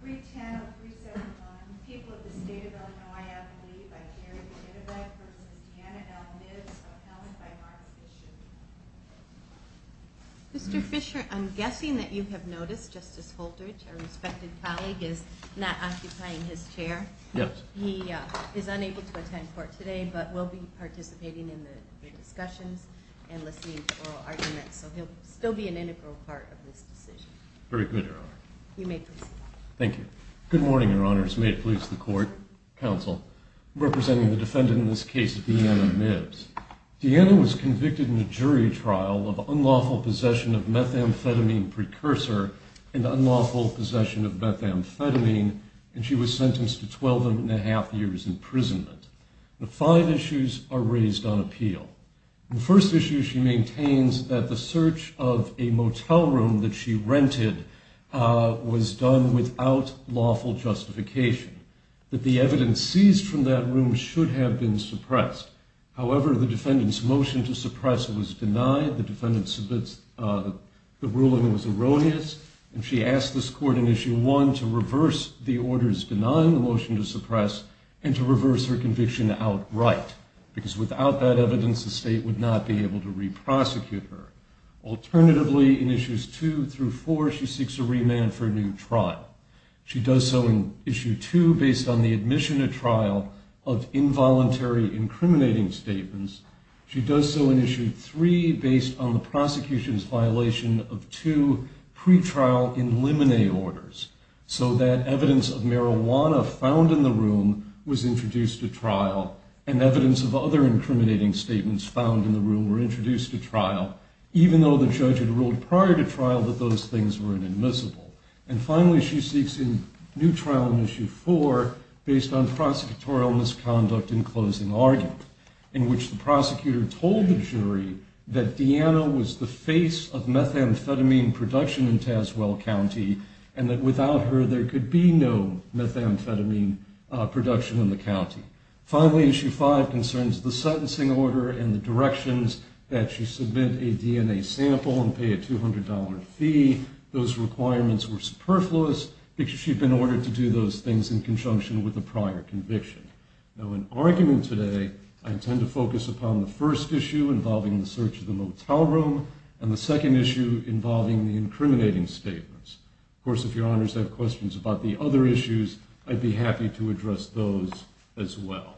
310-371, People of the State of Illinois Appellee, by Jerry Kittlebeck, v. Deanna L. Mibbs, appellant by Martha Fisher. Good morning, your honors. May it please the court, counsel, representing the defendant in this case, Deanna Mibbs. Deanna was convicted in a jury trial of unlawful possession of methamphetamine precursor and unlawful possession of methamphetamine, and she was sentenced to 12 and a half years imprisonment. The five issues are raised on appeal. The first issue she maintains that the search of a motel room that she rented was done without lawful justification, that the evidence seized from that room should have been suppressed. However, the defendant's motion to suppress it was denied, the ruling was erroneous, and she asked this court in issue one to reverse the orders denying the motion to suppress and to reverse her conviction outright. Because without that evidence, the state would not be able to re-prosecute her. Alternatively, in issues two through four, she seeks a remand for a new trial. She does so in issue two based on the admission at trial of involuntary incriminating statements. She does so in issue three based on the prosecution's violation of two pretrial in limine orders, so that evidence of marijuana found in the room was introduced at trial, and evidence of other incriminating statements found in the room were introduced at trial, even though the judge had ruled prior to trial that those things were inadmissible. And finally, she seeks a new trial in issue four based on prosecutorial misconduct in closing argument, in which the prosecutor told the jury that Deanna was the face of methamphetamine production in Tazewell County, and that without her, there could be no methamphetamine production in the county. Finally, issue five concerns the sentencing order and the directions that she submit a DNA sample and pay a $200 fee. Those requirements were superfluous because she'd been ordered to do those things in conjunction with a prior conviction. Now, in argument today, I intend to focus upon the first issue involving the search of the motel room, and the second issue involving the incriminating statements. Of course, if your honors have questions about the other issues, I'd be happy to address those as well.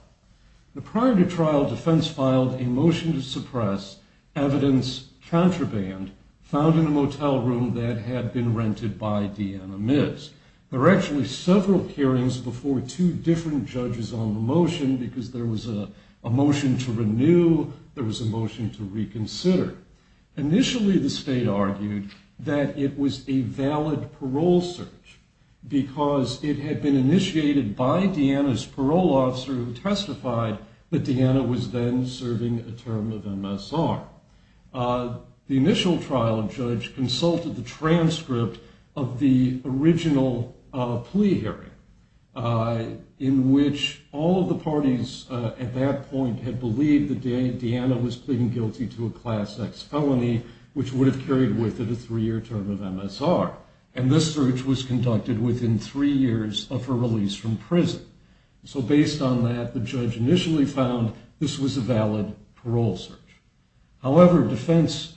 Now, prior to trial, defense filed a motion to suppress evidence contraband found in a motel room that had been rented by Deanna Miz. There were actually several hearings before two different judges on the motion because there was a motion to renew, there was a motion to reconsider. Initially, the state argued that it was a valid parole search because it had been initiated by Deanna's parole officer who testified that Deanna was then serving a term of MSR. The initial trial judge consulted the transcript of the original plea hearing in which all of the parties at that point had believed that Deanna was pleading guilty to a Class X felony which would have carried with it a three-year term of MSR. And this search was conducted within three years of her release from prison. So based on that, the judge initially found this was a valid parole search. However, defense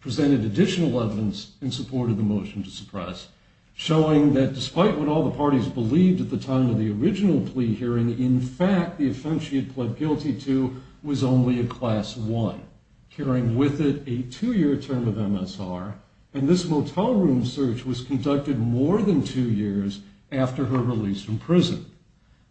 presented additional evidence in support of the motion to suppress showing that despite what all the parties believed at the time of the original plea hearing, in fact, the offense she had pled guilty to was only a Class I, carrying with it a two-year term of MSR. And this motel room search was conducted more than two years after her release from prison.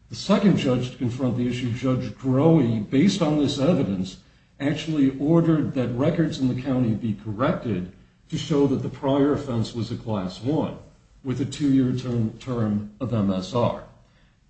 The second judge to confront the issue, Judge Grohe, based on this evidence, actually ordered that records in the county be corrected to show that the prior offense was a Class I with a two-year term of MSR.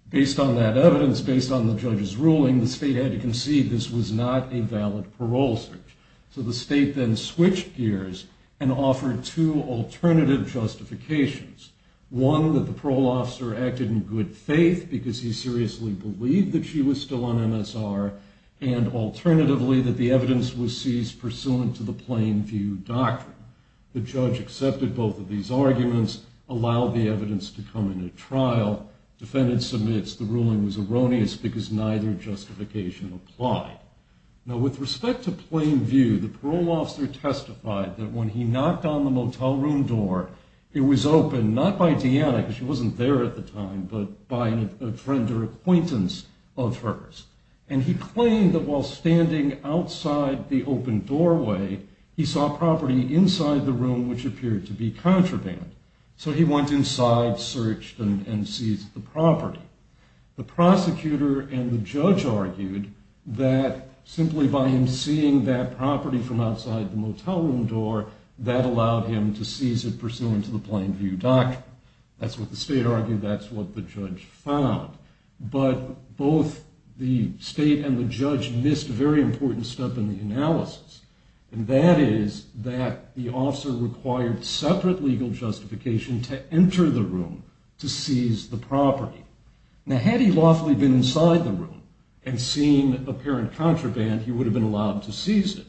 Based on that evidence, based on the judge's ruling, the state had to concede this was not a valid parole search. So the state then switched gears and offered two alternative justifications. One, that the parole officer acted in good faith because he seriously believed that she was still on MSR and alternatively, that the evidence was seized pursuant to the plain view doctrine. The judge accepted both of these arguments, allowed the evidence to come into trial. Defendant submits the ruling was erroneous because neither justification applied. Now with respect to plain view, the parole officer testified that when he knocked on the motel room door, it was open, not by Deanna, because she wasn't there at the time, but by a friend or acquaintance of hers. And he claimed that while standing outside the open doorway, he saw property inside the room which appeared to be contraband. So he went inside, searched, and seized the property. The prosecutor and the judge argued that simply by him seeing that property from outside the motel room door, that allowed him to seize it pursuant to the plain view doctrine. That's what the state argued, that's what the judge found. But both the state and the judge missed a very important step in the analysis. And that is that the officer required separate legal justification to enter the room to seize the property. Now had he lawfully been inside the room and seen apparent contraband, he would have been allowed to seize it.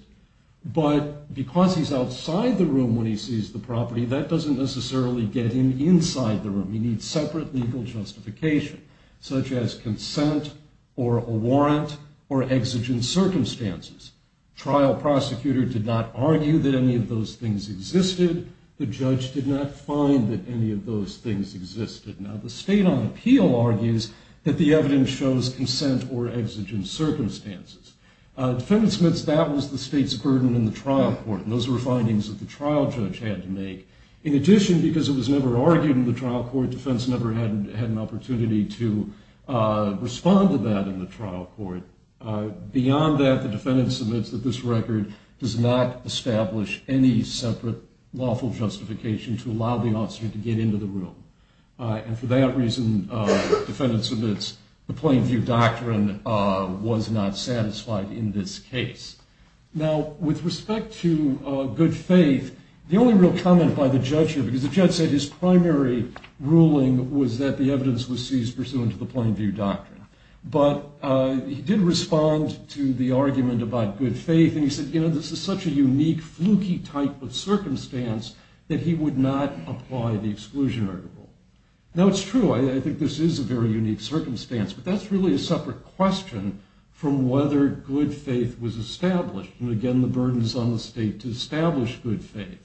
But because he's outside the room when he seized the property, that doesn't necessarily get him inside the room. He needs separate legal justification, such as consent or a warrant or exigent circumstances. Trial prosecutor did not argue that any of those things existed. The judge did not find that any of those things existed. Now the state on appeal argues that the evidence shows consent or exigent circumstances. Defendant Smith's doubt was the state's burden in the trial court. And those were findings that the trial judge had to make. In addition, because it was never argued in the trial court, defense never had an opportunity to respond to that in the trial court. Beyond that, the defendant submits that this record does not establish any separate lawful justification to allow the officer to get into the room. And for that reason, defendant submits, the plain view doctrine was not satisfied in this case. Now with respect to good faith, the only real comment by the judge here, because the judge said his primary ruling was that the evidence was seized pursuant to the plain view doctrine. But he did respond to the argument about good faith. And he said, you know, this is such a unique, fluky type of circumstance that he would not apply the exclusion article. Now it's true, I think this is a very unique circumstance. But that's really a separate question from whether good faith was established. And again, the burden is on the state to establish good faith.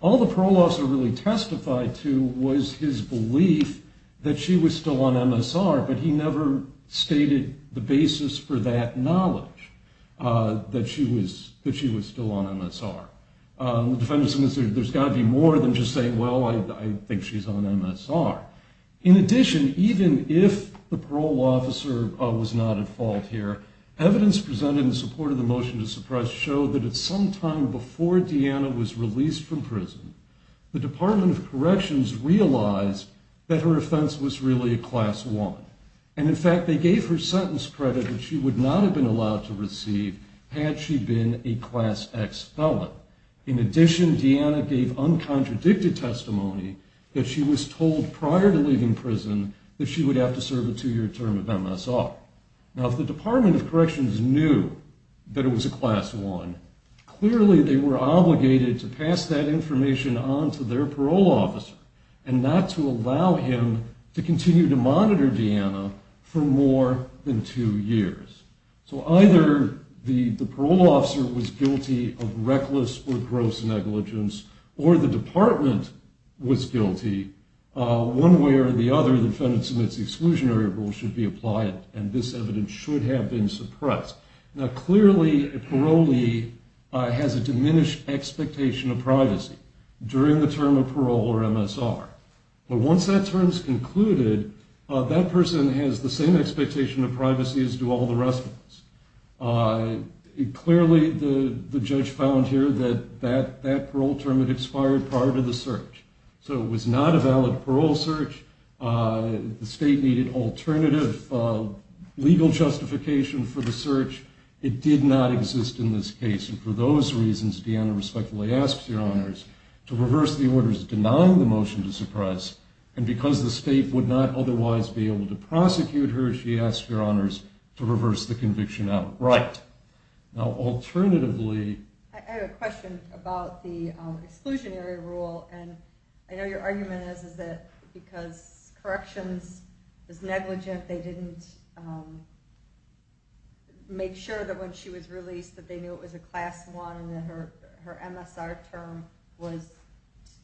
All the parole officer really testified to was his belief that she was still on MSR. But he never stated the basis for that knowledge, that she was still on MSR. The defendant submits there's got to be more than just saying, well, I think she's on MSR. In addition, even if the parole officer was not at fault here, evidence presented in support of the motion to suppress showed that at some time before Deanna was released from prison, the Department of Corrections realized that her offense was really a class one. And in fact, they gave her sentence credit that she would not have been allowed to receive had she been a class X felon. In addition, Deanna gave uncontradicted testimony that she was told prior to leaving prison that she would have to serve a two year term of MSR. Now if the Department of Corrections knew that it was a class one, clearly they were obligated to pass that information on to their parole officer and not to allow him to continue to monitor Deanna for more than two years. So either the parole officer was guilty of reckless or gross negligence or the department was guilty, one way or the other, the defendant submits the exclusionary rule should be applied and this evidence should have been suppressed. Now clearly a parolee has a diminished expectation of privacy during the term of parole or MSR. But once that term is concluded, that person has the same expectation of privacy as do all the rest of us. Clearly the judge found here that that parole term had expired prior to the search. So it was not a valid parole search. The state needed alternative legal justification for the search. It did not exist in this case. And for those reasons, Deanna respectfully asks your honors to reverse the orders denying the motion to suppress. And because the state would not otherwise be able to prosecute her, she asks your honors to reverse the conviction out. Right. Now alternatively... I have a question about the exclusionary rule. And I know your argument is that because corrections was negligent, they didn't make sure that when she was released that they knew it was a Class I and that her MSR term was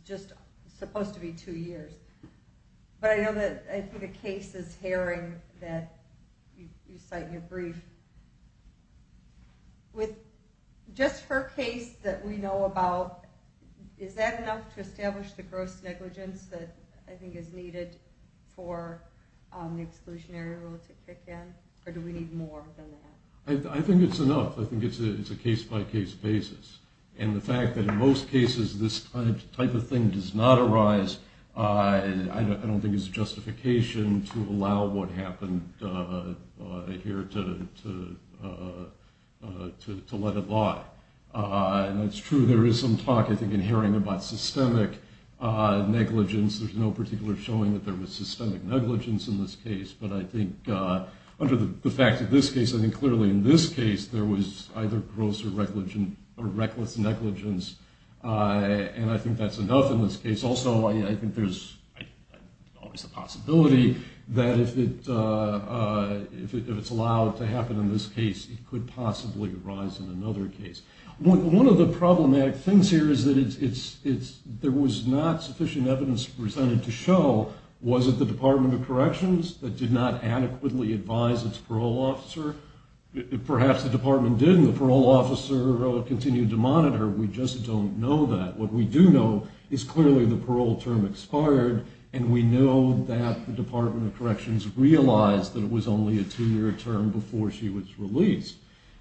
just supposed to be two years. But I know that the case is harrowing that you cite in your brief. With just her case that we know about, is that enough to establish the gross negligence that I think is needed for the exclusionary rule? Or do we need more than that? I think it's enough. I think it's a case-by-case basis. And the fact that in most cases this type of thing does not arise, I don't think is a justification to allow what happened here to let it lie. And it's true there is some talk I think in hearing about systemic negligence. There's no particular showing that there was systemic negligence in this case. But I think under the fact of this case, I think clearly in this case there was either gross or reckless negligence. And I think that's enough in this case. Also, I think there's always the possibility that if it's allowed to happen in this case, it could possibly arise in another case. One of the problematic things here is that there was not sufficient evidence presented to show, was it the Department of Corrections that did not adequately advise its parole officer? Perhaps the department did, and the parole officer continued to monitor. We just don't know that. What we do know is clearly the parole term expired, and we know that the Department of Corrections realized that it was only a two-year term before she was released.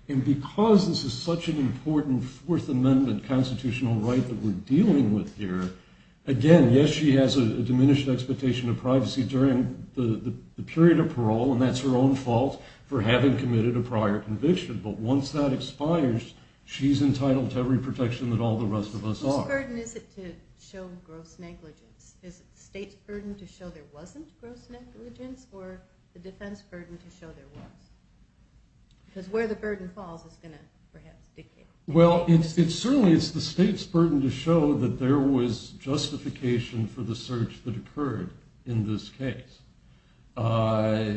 And because this is such an important Fourth Amendment constitutional right that we're dealing with here, again, yes, she has a diminished expectation of privacy during the period of parole, and that's her own fault for having committed a prior conviction. But once that expires, she's entitled to every protection that all the rest of us are. Whose burden is it to show gross negligence? Is it the state's burden to show there wasn't gross negligence, or the defense burden to show there was? Because where the burden falls is going to, perhaps, decay. Well, certainly it's the state's burden to show that there was justification for the search that occurred in this case. So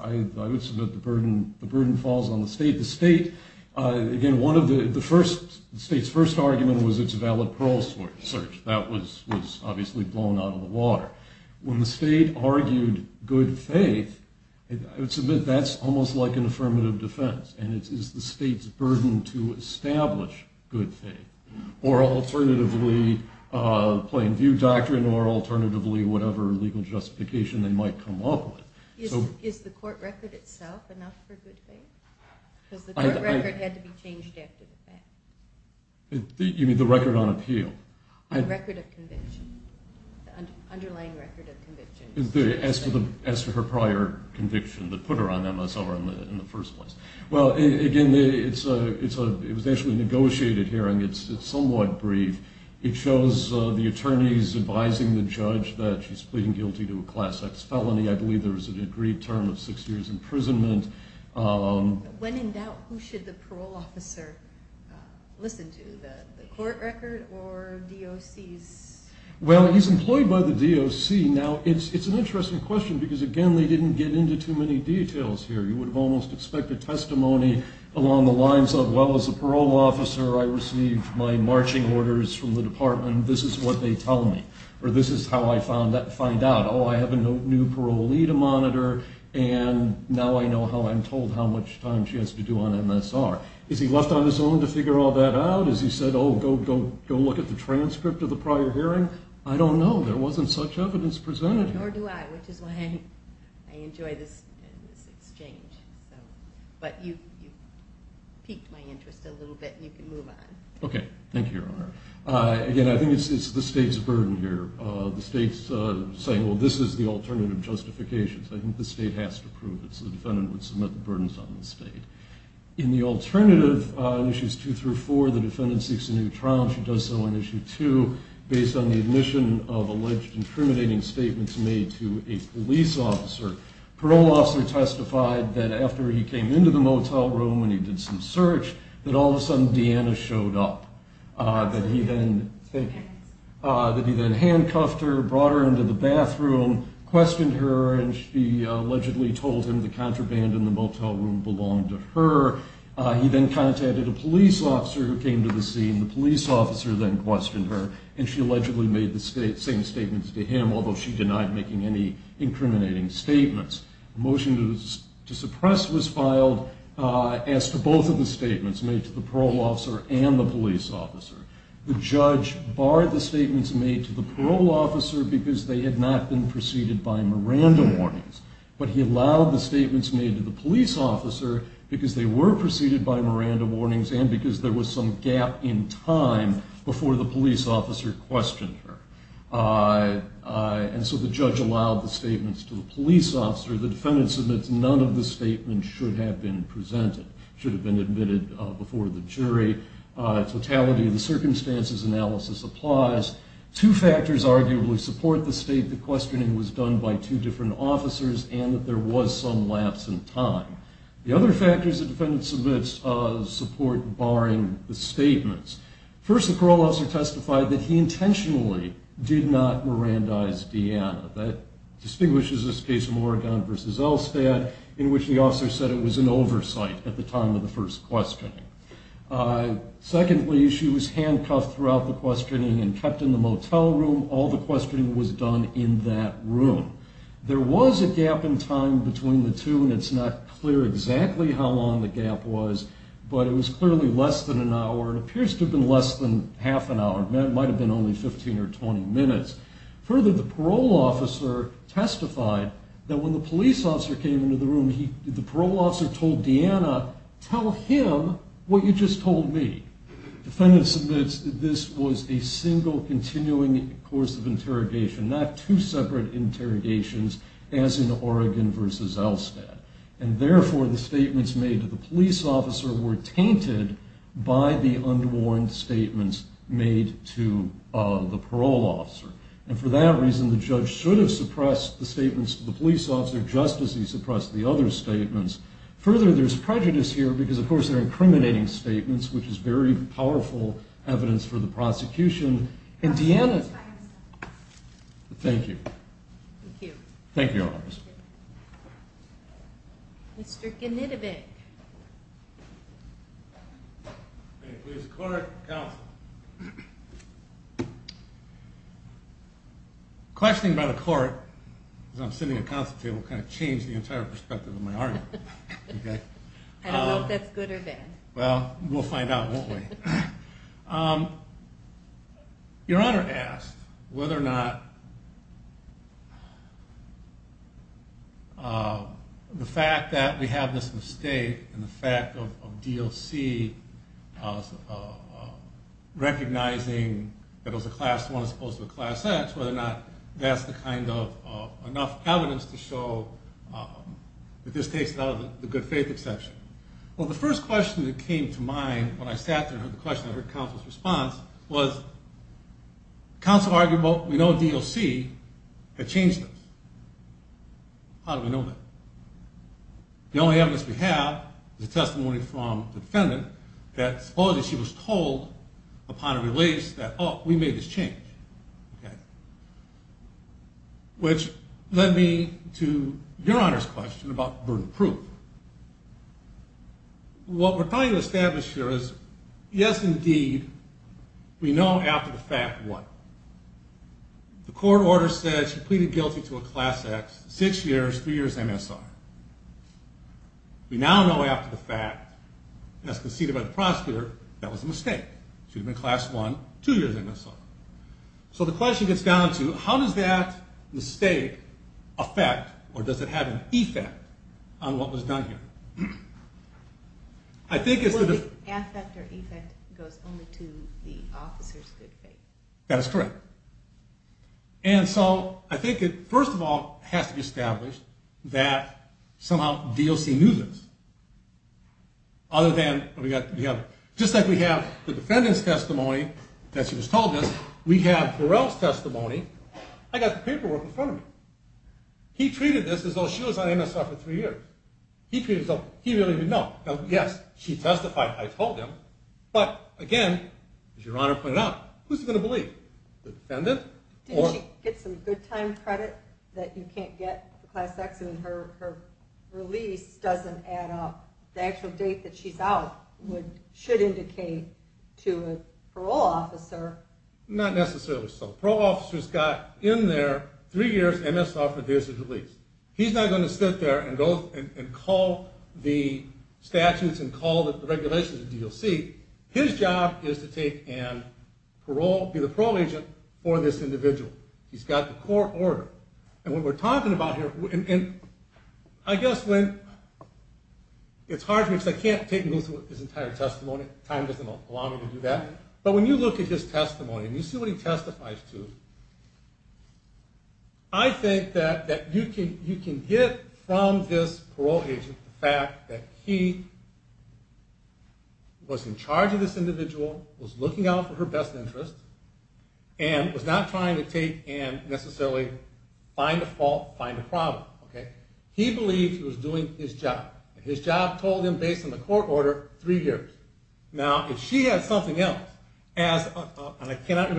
I would submit the burden falls on the state. The state, again, the state's first argument was it's a valid parole search. That was obviously blown out of the water. When the state argued good faith, I would submit that's almost like an affirmative defense, and it's the state's burden to establish good faith, or alternatively, plain view doctrine, or alternatively, whatever legal justification they might come up with. Is the court record itself enough for good faith? Because the court record had to be changed after the fact. You mean the record on appeal? The record of conviction, the underlying record of conviction. As to her prior conviction that put her on MSR in the first place. Well, again, it was actually a negotiated hearing. It's somewhat brief. It shows the attorneys advising the judge that she's pleading guilty to a Class X felony. I believe there was an agreed term of six years imprisonment. When in doubt, who should the parole officer listen to? The court record or DOC's? Well, he's employed by the DOC. Now, it's an interesting question because, again, they didn't get into too many details here. You would have almost expected testimony along the lines of, well, as a parole officer, I received my marching orders from the department. This is what they tell me, or this is how I find out. Oh, I have a new parolee to monitor, and now I know how I'm told how much time she has to do on MSR. Is he left on his own to figure all that out? Has he said, oh, go look at the transcript of the prior hearing? I don't know. There wasn't such evidence presented. Nor do I, which is why I enjoy this exchange. But you've piqued my interest a little bit, and you can move on. Okay. Thank you, Your Honor. Again, I think it's the state's burden here. The state's saying, well, this is the alternative justification. I think the state has to prove it, so the defendant would submit the burdens on the state. In the alternative, Issues 2 through 4, the defendant seeks a new trial, and she does so in Issue 2, based on the admission of alleged incriminating statements made to a police officer. Parole officer testified that after he came into the motel room and he did some search, that all of a sudden Deanna showed up, that he then handcuffed her, brought her into the bathroom, questioned her, and she allegedly told him the contraband in the motel room belonged to her. He then contacted a police officer who came to the scene. The police officer then questioned her, and she allegedly made the same statements to him, although she denied making any incriminating statements. A motion to suppress was filed as to both of the statements made to the parole officer and the police officer. The judge barred the statements made to the parole officer because they had not been preceded by Miranda warnings, but he allowed the statements made to the police officer because they were preceded by Miranda warnings and because there was some gap in time before the police officer questioned her. And so the judge allowed the statements to the police officer. The defendant submits none of the statements should have been presented, should have been admitted before the jury. Totality of the circumstances analysis applies. Two factors arguably support the state that questioning was done by two different officers and that there was some lapse in time. The other factors the defendant submits support barring the statements. First, the parole officer testified that he intentionally did not Mirandize Deanna. That distinguishes this case from Oregon versus Elstad, in which the officer said it was an oversight at the time of the first questioning. Secondly, she was handcuffed throughout the questioning and kept in the motel room. All the questioning was done in that room. There was a gap in time between the two, and it's not clear exactly how long the gap was, but it was clearly less than an hour. It appears to have been less than half an hour. It might have been only 15 or 20 minutes. Further, the parole officer testified that when the police officer came into the room, the parole officer told Deanna, tell him what you just told me. The defendant submits this was a single continuing course of interrogation, not two separate interrogations as in Oregon versus Elstad, and therefore the statements made to the police officer were tainted by the unwarned statements made to the parole officer. For that reason, the judge should have suppressed the statements to the police officer just as he suppressed the other statements. Further, there's prejudice here because, of course, they're incriminating statements, which is very powerful evidence for the prosecution. Deanna, thank you. Thank you. Thank you, Your Honor. Thank you, Mr. Kennedy. Mr. Genetovic. May it please the court, counsel. Questioning by the court, because I'm sitting at counsel table, kind of changed the entire perspective of my argument. I don't know if that's good or bad. Well, we'll find out, won't we? Your Honor asked whether or not the fact that we have this mistake and the fact of DLC recognizing that it was a Class I as opposed to a Class X, whether or not that's the kind of enough evidence to show that this takes it out of the good faith exception. Well, the first question that came to mind when I sat there and heard the question, and I heard counsel's response, was counsel argued, well, we know DLC had changed this. How do we know that? The only evidence we have is a testimony from the defendant that supposedly she was told upon release that, oh, we made this change, which led me to Your Honor's question about burden of proof. What we're trying to establish here is, yes, indeed, we know after the fact what. The court order said she pleaded guilty to a Class X, six years, three years MSR. We now know after the fact, as conceded by the prosecutor, that was a mistake. She would have been Class I, two years MSR. So the question gets down to, how does that mistake affect or does it have an effect on what was done here? I think it's the... The affect or effect goes only to the officer's good faith. That is correct. And so I think it, first of all, has to be established that somehow DLC knew this. Other than, just like we have the defendant's testimony that she was told this, we have Burrell's testimony. I got the paperwork in front of me. He treated this as though she was on MSR for three years. He treated it as though he really didn't know. Now, yes, she testified. I told him. But, again, as Your Honor pointed out, who's he going to believe? The defendant or... Did she get some good time credit that you can't get with Class X and her release doesn't add up? The actual date that she's out should indicate to a parole officer. Not necessarily so. Parole officers got in there three years MSR for this release. He's not going to sit there and go and call the statutes and call the regulations of DLC. His job is to take and be the parole agent for this individual. He's got the court order. And what we're talking about here... I guess when... It's hard for me because I can't take and go through his entire testimony. Time doesn't allow me to do that. But when you look at his testimony and you see what he testifies to, I think that you can get from this parole agent the fact that he was in charge of this individual, was looking out for her best interest, and was not trying to take and necessarily find a fault, find a problem. He believes he was doing his job. And his job told him, based on the court order, three years. Now, if she had something else, as... There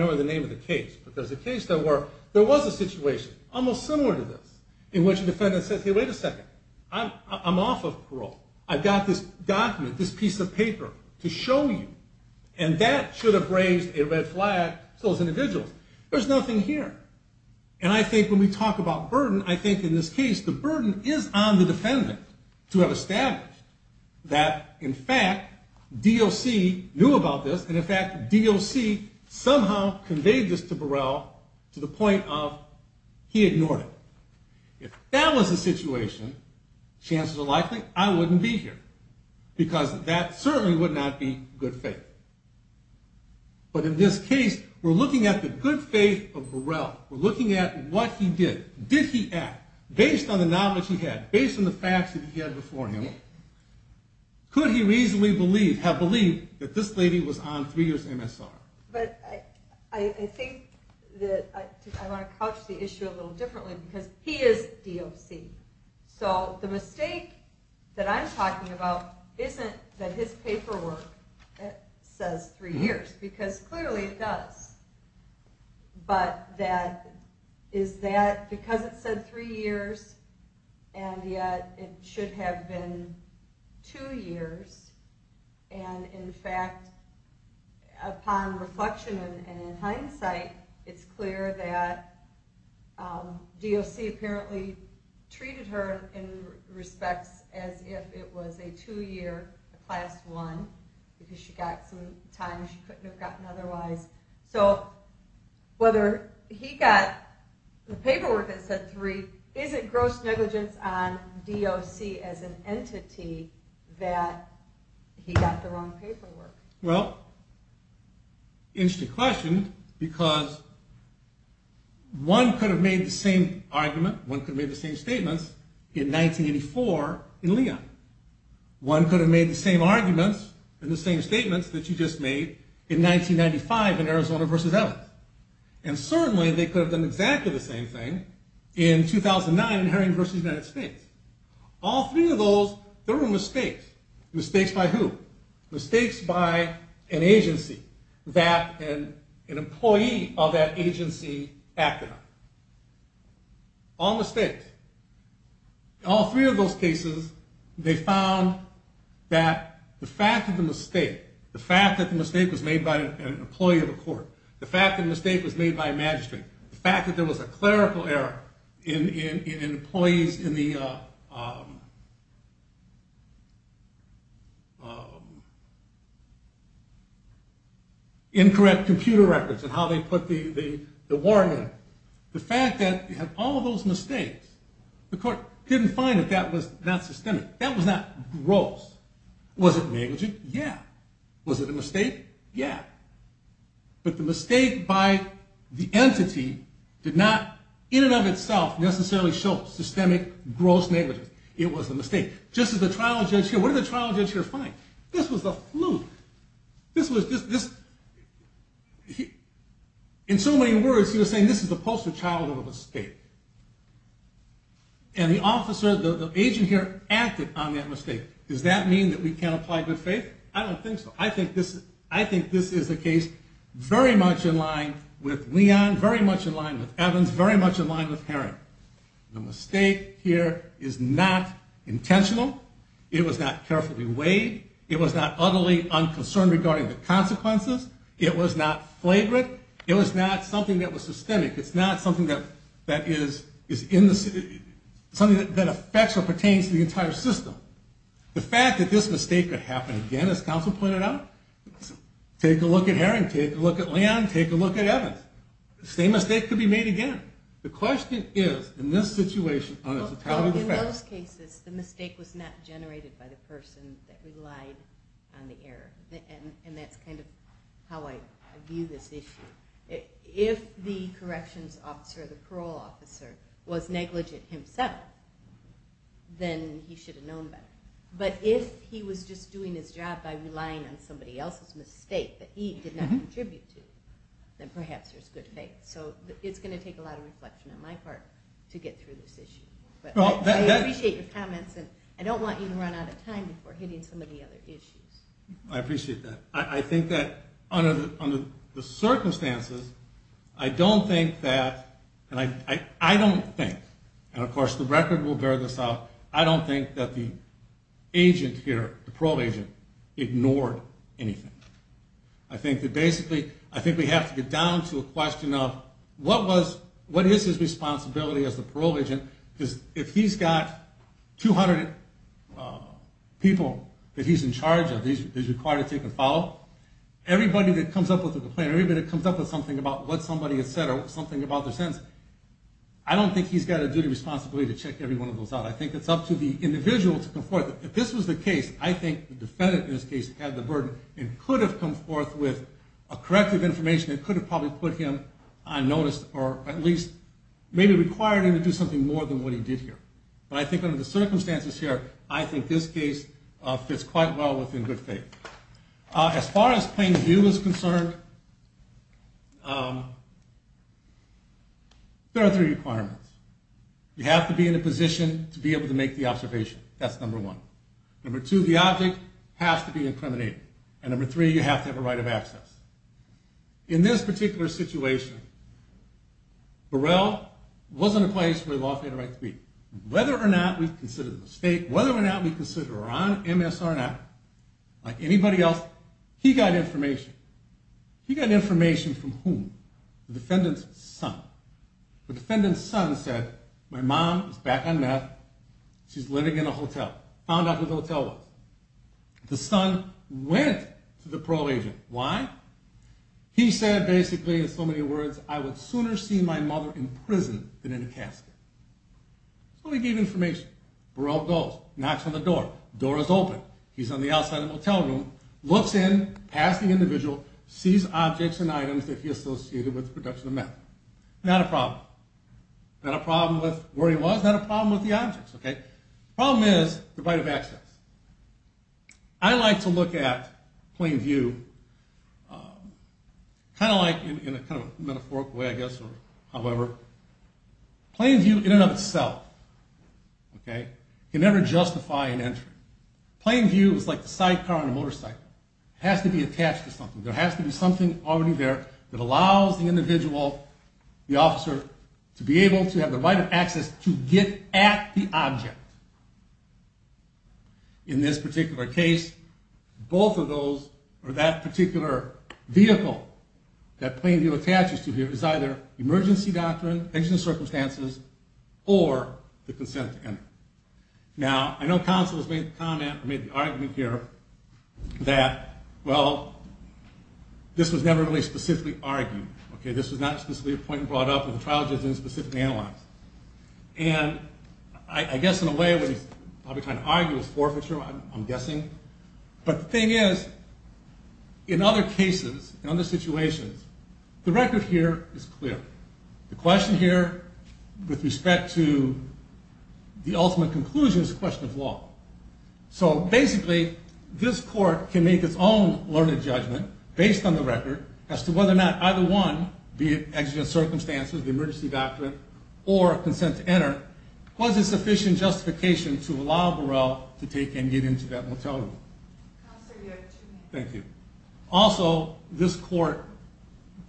was a situation, almost similar to this, in which a defendant said, hey, wait a second. I'm off of parole. I've got this document, this piece of paper, to show you. And that should have raised a red flag to those individuals. There's nothing here. And I think when we talk about burden, I think in this case, the burden is on the defendant to have established that, in fact, DOC knew about this. And, in fact, DOC somehow conveyed this to Burrell to the point of he ignored it. If that was the situation, chances are likely I wouldn't be here, because that certainly would not be good faith. But in this case, we're looking at the good faith of Burrell. We're looking at what he did. Did he act based on the knowledge he had, based on the facts that he had before him? Could he reasonably have believed that this lady was on three years MSR? But I think that I want to couch the issue a little differently, because he is DOC. So the mistake that I'm talking about isn't that his paperwork says three years, because clearly it does. But that is that because it said three years, and yet it should have been two years. And, in fact, upon reflection and in hindsight, it's clear that DOC apparently treated her in respects as if it was a two-year, a Class I, because she got some time she couldn't have gotten otherwise. So whether he got the paperwork that said three, is it gross negligence on DOC as an entity that he got the wrong paperwork? Well, interesting question, because one could have made the same argument, one could have made the same statements in 1984 in Leon. One could have made the same arguments in the same statements that you just made in 1995 in Arizona v. Evans. And certainly they could have done exactly the same thing in 2009 in Herring v. United States. All three of those, there were mistakes. Mistakes by who? Mistakes by an agency that an employee of that agency acted on. All mistakes. All three of those cases, they found that the fact that the mistake, the fact that the mistake was made by an employee of a court, the fact that the mistake was made by a magistrate, the fact that there was a clerical error in employees in the incorrect computer records and how they put the warrant in, the fact that you have all of those mistakes, the court didn't find that that was not systemic. That was not gross. Was it negligent? Yeah. Was it a mistake? Yeah. But the mistake by the entity did not in and of itself necessarily show systemic gross negligence. It was a mistake. Just as the trial judge here, what did the trial judge here find? This was the fluke. In so many words, he was saying this is the poster child of a mistake. And the officer, the agent here acted on that mistake. Does that mean that we can't apply good faith? I don't think so. I think this is a case very much in line with Leon, very much in line with Evans, very much in line with Herring. The mistake here is not intentional. It was not carefully weighed. It was not utterly unconcerned regarding the consequences. It was not flagrant. It was not something that was systemic. It's not something that is in the city, something that affects or pertains to the entire system. The fact that this mistake could happen again, as counsel pointed out, take a look at Herring, take a look at Leon, take a look at Evans. The same mistake could be made again. The question is, in this situation, on a fatality defense. In most cases, the mistake was not generated by the person that relied on the error. And that's kind of how I view this issue. If the corrections officer or the parole officer was negligent himself, then he should have known better. But if he was just doing his job by relying on somebody else's mistake that he did not contribute to, then perhaps there's good faith. So it's going to take a lot of reflection on my part to get through this issue. But I appreciate your comments, and I don't want you to run out of time before hitting some of the other issues. I appreciate that. I think that under the circumstances, I don't think that, and I don't think, and of course the record will bear this out, I don't think that the agent here, the parole agent, ignored anything. I think that basically, I think we have to get down to a question of what is his responsibility as the parole agent, because if he's got 200 people that he's in charge of, that he's required to take and follow, everybody that comes up with a complaint, everybody that comes up with something about what somebody has said or something about their sentence, I don't think he's got a duty or responsibility to check every one of those out. I think it's up to the individual to come forth. If this was the case, I think the defendant in this case had the burden and could have come forth with a corrective information and could have probably put him on notice or at least maybe required him to do something more than what he did here. But I think under the circumstances here, I think this case fits quite well within good faith. As far as plain view is concerned, there are three requirements. You have to be in a position to be able to make the observation. That's number one. Number two, the object has to be incriminating. And number three, you have to have a right of access. In this particular situation, Burrell wasn't a place where the law had a right to be. Whether or not we consider it a mistake, whether or not we consider her on MSR or not, like anybody else, he got information. He got information from whom? The defendant's son. The defendant's son said, my mom is back on meth, she's living in a hotel. Found out who the hotel was. The son went to the parole agent. Why? He said, basically, in so many words, I would sooner see my mother in prison than in a casket. So he gave information. Burrell goes. Knocks on the door. Door is open. He's on the outside of the motel room. Looks in, past the individual, sees objects and items that he associated with the production of meth. Not a problem. Not a problem with where he was. Not a problem with the objects, okay? Problem is the right of access. I like to look at plain view kind of like, in a kind of metaphorical way, I guess, or however. Plain view in and of itself, okay, can never justify an entry. Plain view is like the sidecar on a motorcycle. It has to be attached to something. There has to be something already there that allows the individual, the officer, to be able to have the right of access to get at the object. In this particular case, both of those, or that particular vehicle that plain view attaches to here, is either emergency doctrine, existing circumstances, or the consent to enter. Now, I know counsel has made the comment, or made the argument here, that, well, this was never really specifically argued, okay? This was not specifically a point brought up or the trial judge didn't specifically analyze. And I guess, in a way, what he's probably trying to argue is forfeiture, I'm guessing. But the thing is, in other cases, in other situations, the record here is clear. The question here, with respect to the ultimate conclusion, is a question of law. So, basically, this court can make its own learned judgment, based on the record, as to whether or not either one, be it existing circumstances, the emergency doctrine, or consent to enter, was a sufficient justification to allow Burrell to take and get into that motel room. Counsel, you have two minutes. Thank you. Also, this court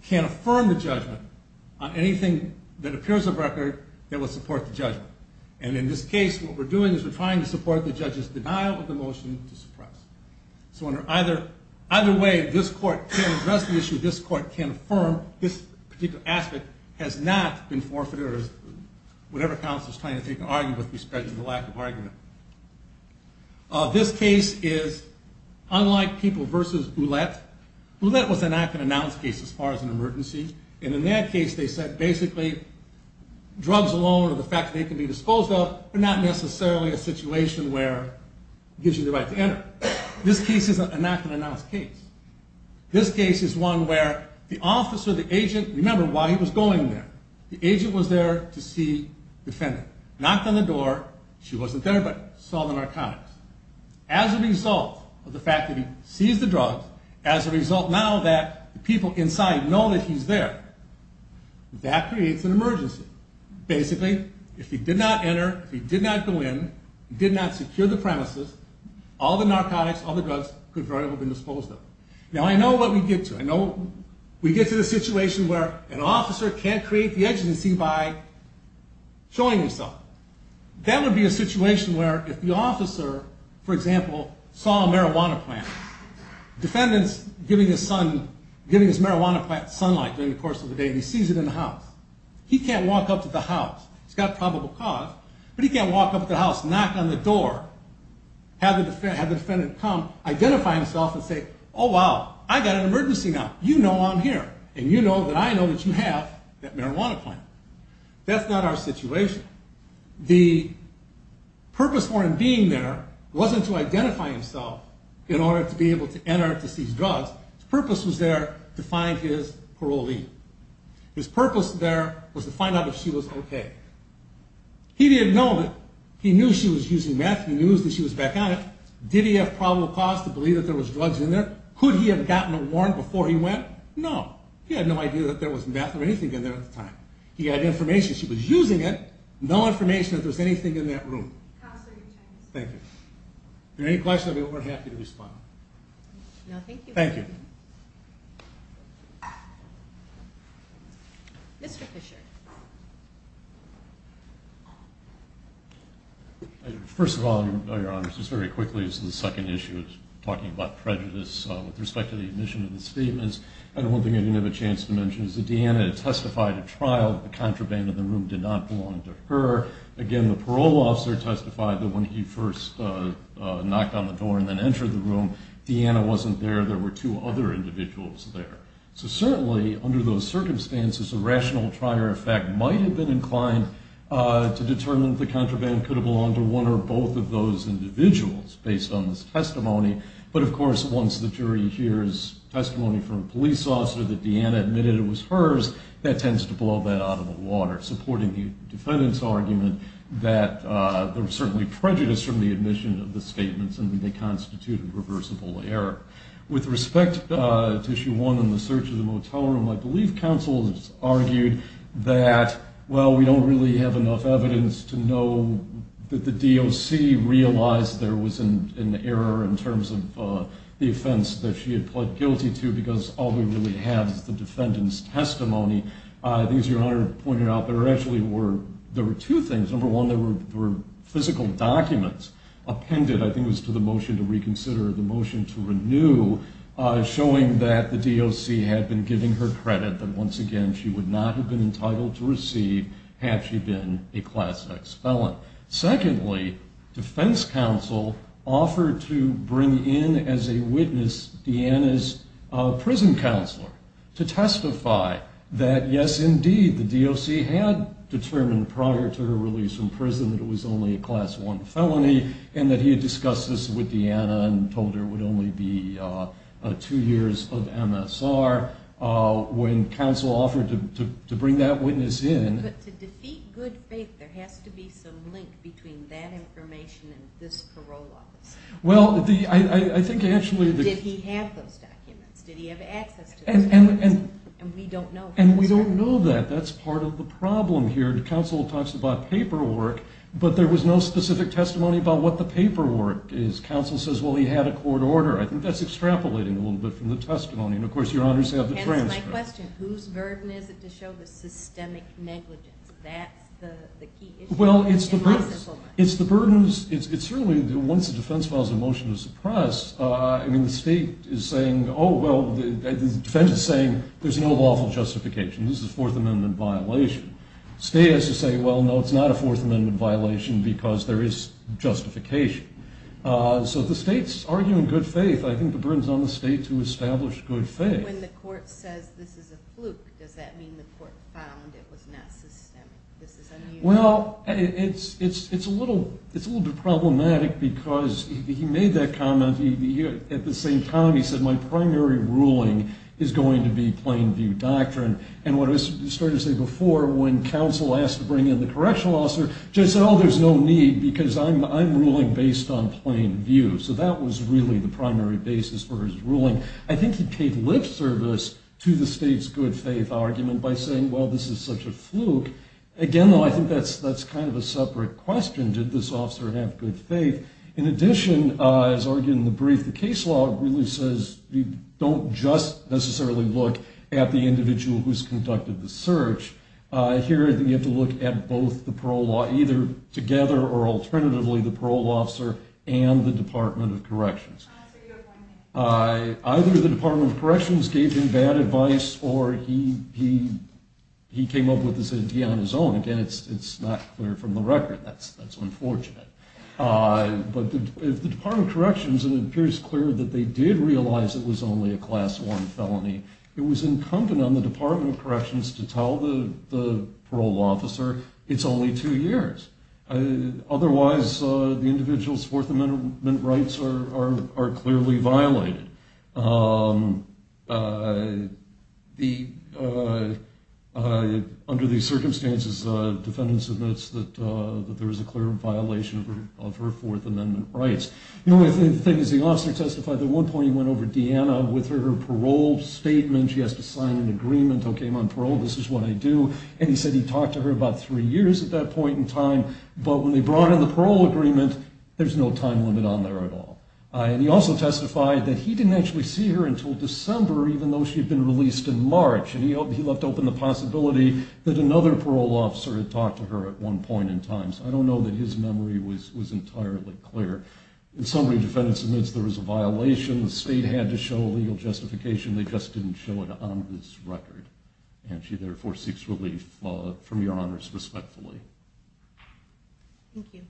can affirm the judgment on anything that appears of record that would support the judgment. And in this case, what we're doing is we're trying to support the judge's denial of the motion to suppress. So, either way, this court can address the issue, this court can affirm this particular aspect has not been forfeited, or whatever counsel is trying to argue with, with respect to the lack of argument. This case is, unlike people versus Ouellette, Ouellette was a not-yet-announced case, as far as an emergency. And in that case, they said, basically, drugs alone, or the fact that they can be disposed of, are not necessarily a situation where it gives you the right to enter. This case is a not-yet-announced case. This case is one where the officer, the agent, remember, while he was going there, the agent was there to see the defendant. Knocked on the door, she wasn't there, but saw the narcotics. As a result of the fact that he sees the drugs, as a result now that the people inside know that he's there, that creates an emergency. Basically, if he did not enter, if he did not go in, did not secure the premises, all the narcotics, all the drugs, could very well be disposed of. Now, I know what we get to. I know we get to the situation where an officer can't create the agency by showing himself. That would be a situation where, if the officer, for example, saw a marijuana plant, the defendant's giving his marijuana plant sunlight during the course of the day, and he sees it in the house. He can't walk up to the house. It's got probable cause, but he can't walk up to the house, knock on the door, have the defendant come, identify himself, and say, oh, wow, I've got an emergency now. You know I'm here, and you know that I know that you have that marijuana plant. That's not our situation. The purpose for him being there wasn't to identify himself in order to be able to enter to seize drugs. His purpose was there to find his parolee. His purpose there was to find out if she was okay. He didn't know that. He knew she was using meth. He knew that she was back on it. Did he have probable cause to believe that there was drugs in there? Could he have gotten a warrant before he went? No. He had no idea that there was meth or anything in there at the time. He had information she was using it, no information that there was anything in that room. Thank you. Any questions? We're happy to respond. Thank you. Mr. Fisher. First of all, Your Honor, just very quickly as the second issue of talking about prejudice with respect to the admission of the statements, one thing I didn't have a chance to mention is that Deanna testified at trial that the contraband in the room did not belong to her. Again, the parole officer testified that when he first knocked on the door and then entered the room, Deanna wasn't there. There were two other individuals there. So certainly under those circumstances, a rational trier of fact might have been inclined to determine that the contraband could have belonged to one or both of those individuals based on this testimony. But, of course, once the jury hears testimony from a police officer that Deanna admitted it was hers, that tends to blow that out of the water, supporting the defendant's argument that there was certainly prejudice from the admission of the statements and that they constituted reversible error. With respect to issue one in the search of the motel room, I believe counsel has argued that, well, we don't really have enough evidence to know that the DOC realized there was an error in terms of the offense that she had pled guilty to because all we really have is the defendant's testimony. I think, as Your Honor pointed out, there actually were two things. Number one, there were physical documents appended, I think it was to the motion to reconsider or the motion to renew, showing that the DOC had been giving her credit that, once again, she would not have been entitled to receive had she been a Class X felon. Secondly, defense counsel offered to bring in as a witness Deanna's prison counselor to testify that, yes, indeed, the DOC had determined prior to her release from prison that it was only a We discussed this with Deanna and told her it would only be two years of MSR. When counsel offered to bring that witness in. But to defeat good faith, there has to be some link between that information and this parole office. Well, I think, actually. Did he have those documents? Did he have access to those documents? And we don't know. And we don't know that. That's part of the problem here. Counsel talks about paperwork, but there was no specific testimony about what the paperwork is. Counsel says, well, he had a court order. I think that's extrapolating a little bit from the testimony. And, of course, your honors have the transcript. My question, whose burden is it to show the systemic negligence? That's the key issue. Well, it's the burdens. It's certainly, once the defense files a motion to suppress, I mean, the state is saying, oh, well, the defense is saying there's no lawful justification. This is a Fourth Amendment violation. The state has to say, well, no, it's not a Fourth Amendment violation because there is justification. So the state's arguing good faith. I think the burden's on the state to establish good faith. When the court says this is a fluke, does that mean the court found it was not systemic, this is unusual? Well, it's a little bit problematic because he made that comment. At the same time, he said, my primary ruling is going to be plain view doctrine. And what I was starting to say before, when counsel asked to bring in the correctional officer, judge said, oh, there's no need because I'm ruling based on plain view. So that was really the primary basis for his ruling. I think he paid lip service to the state's good faith argument by saying, well, this is such a fluke. Again, though, I think that's kind of a separate question. Did this officer have good faith? In addition, as argued in the brief, the case law really says you don't just necessarily look at the individual who's conducted the search. Here, you have to look at both the parole law, either together or alternatively the parole officer and the Department of Corrections. Either the Department of Corrections gave him bad advice or he came up with this idea on his own. Again, it's not clear from the record. That's unfortunate. But the Department of Corrections, it appears clear that they did realize it was only a Class I felony. It was incumbent on the Department of Corrections to tell the parole officer it's only two years. Otherwise, the individual's Fourth Amendment rights are clearly violated. Under these circumstances, defendants admits that there is a clear violation of her Fourth Amendment rights. The only other thing is the officer testified that at one point he went over to Deanna with her parole statement. She has to sign an agreement. Okay, I'm on parole. This is what I do. And he said he talked to her about three years at that point in time. But when they brought in the parole agreement, there's no time limit on there at all. And he also testified that he didn't actually see her until December, even though she had been released in March. And he left open the possibility that another parole officer had talked to her at one point in time. So I don't know that his memory was entirely clear. In summary, defendants admits there was a violation. The state had to show legal justification. They just didn't show it on this record. And she, therefore, seeks relief from Your Honors respectfully. Thank you.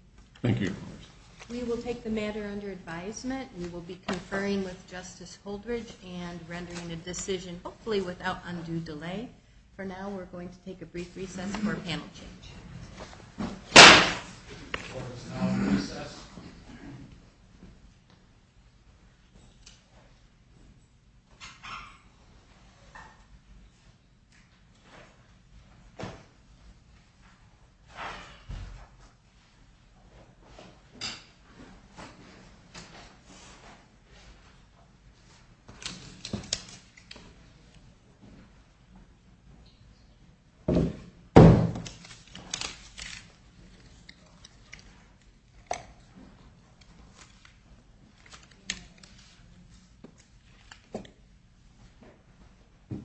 Thank you, Your Honors. We will take the matter under advisement. We will be conferring with Justice Holdridge and rendering a decision hopefully without undue delay. For now, we're going to take a brief recess for panel change. Recess. Thank you.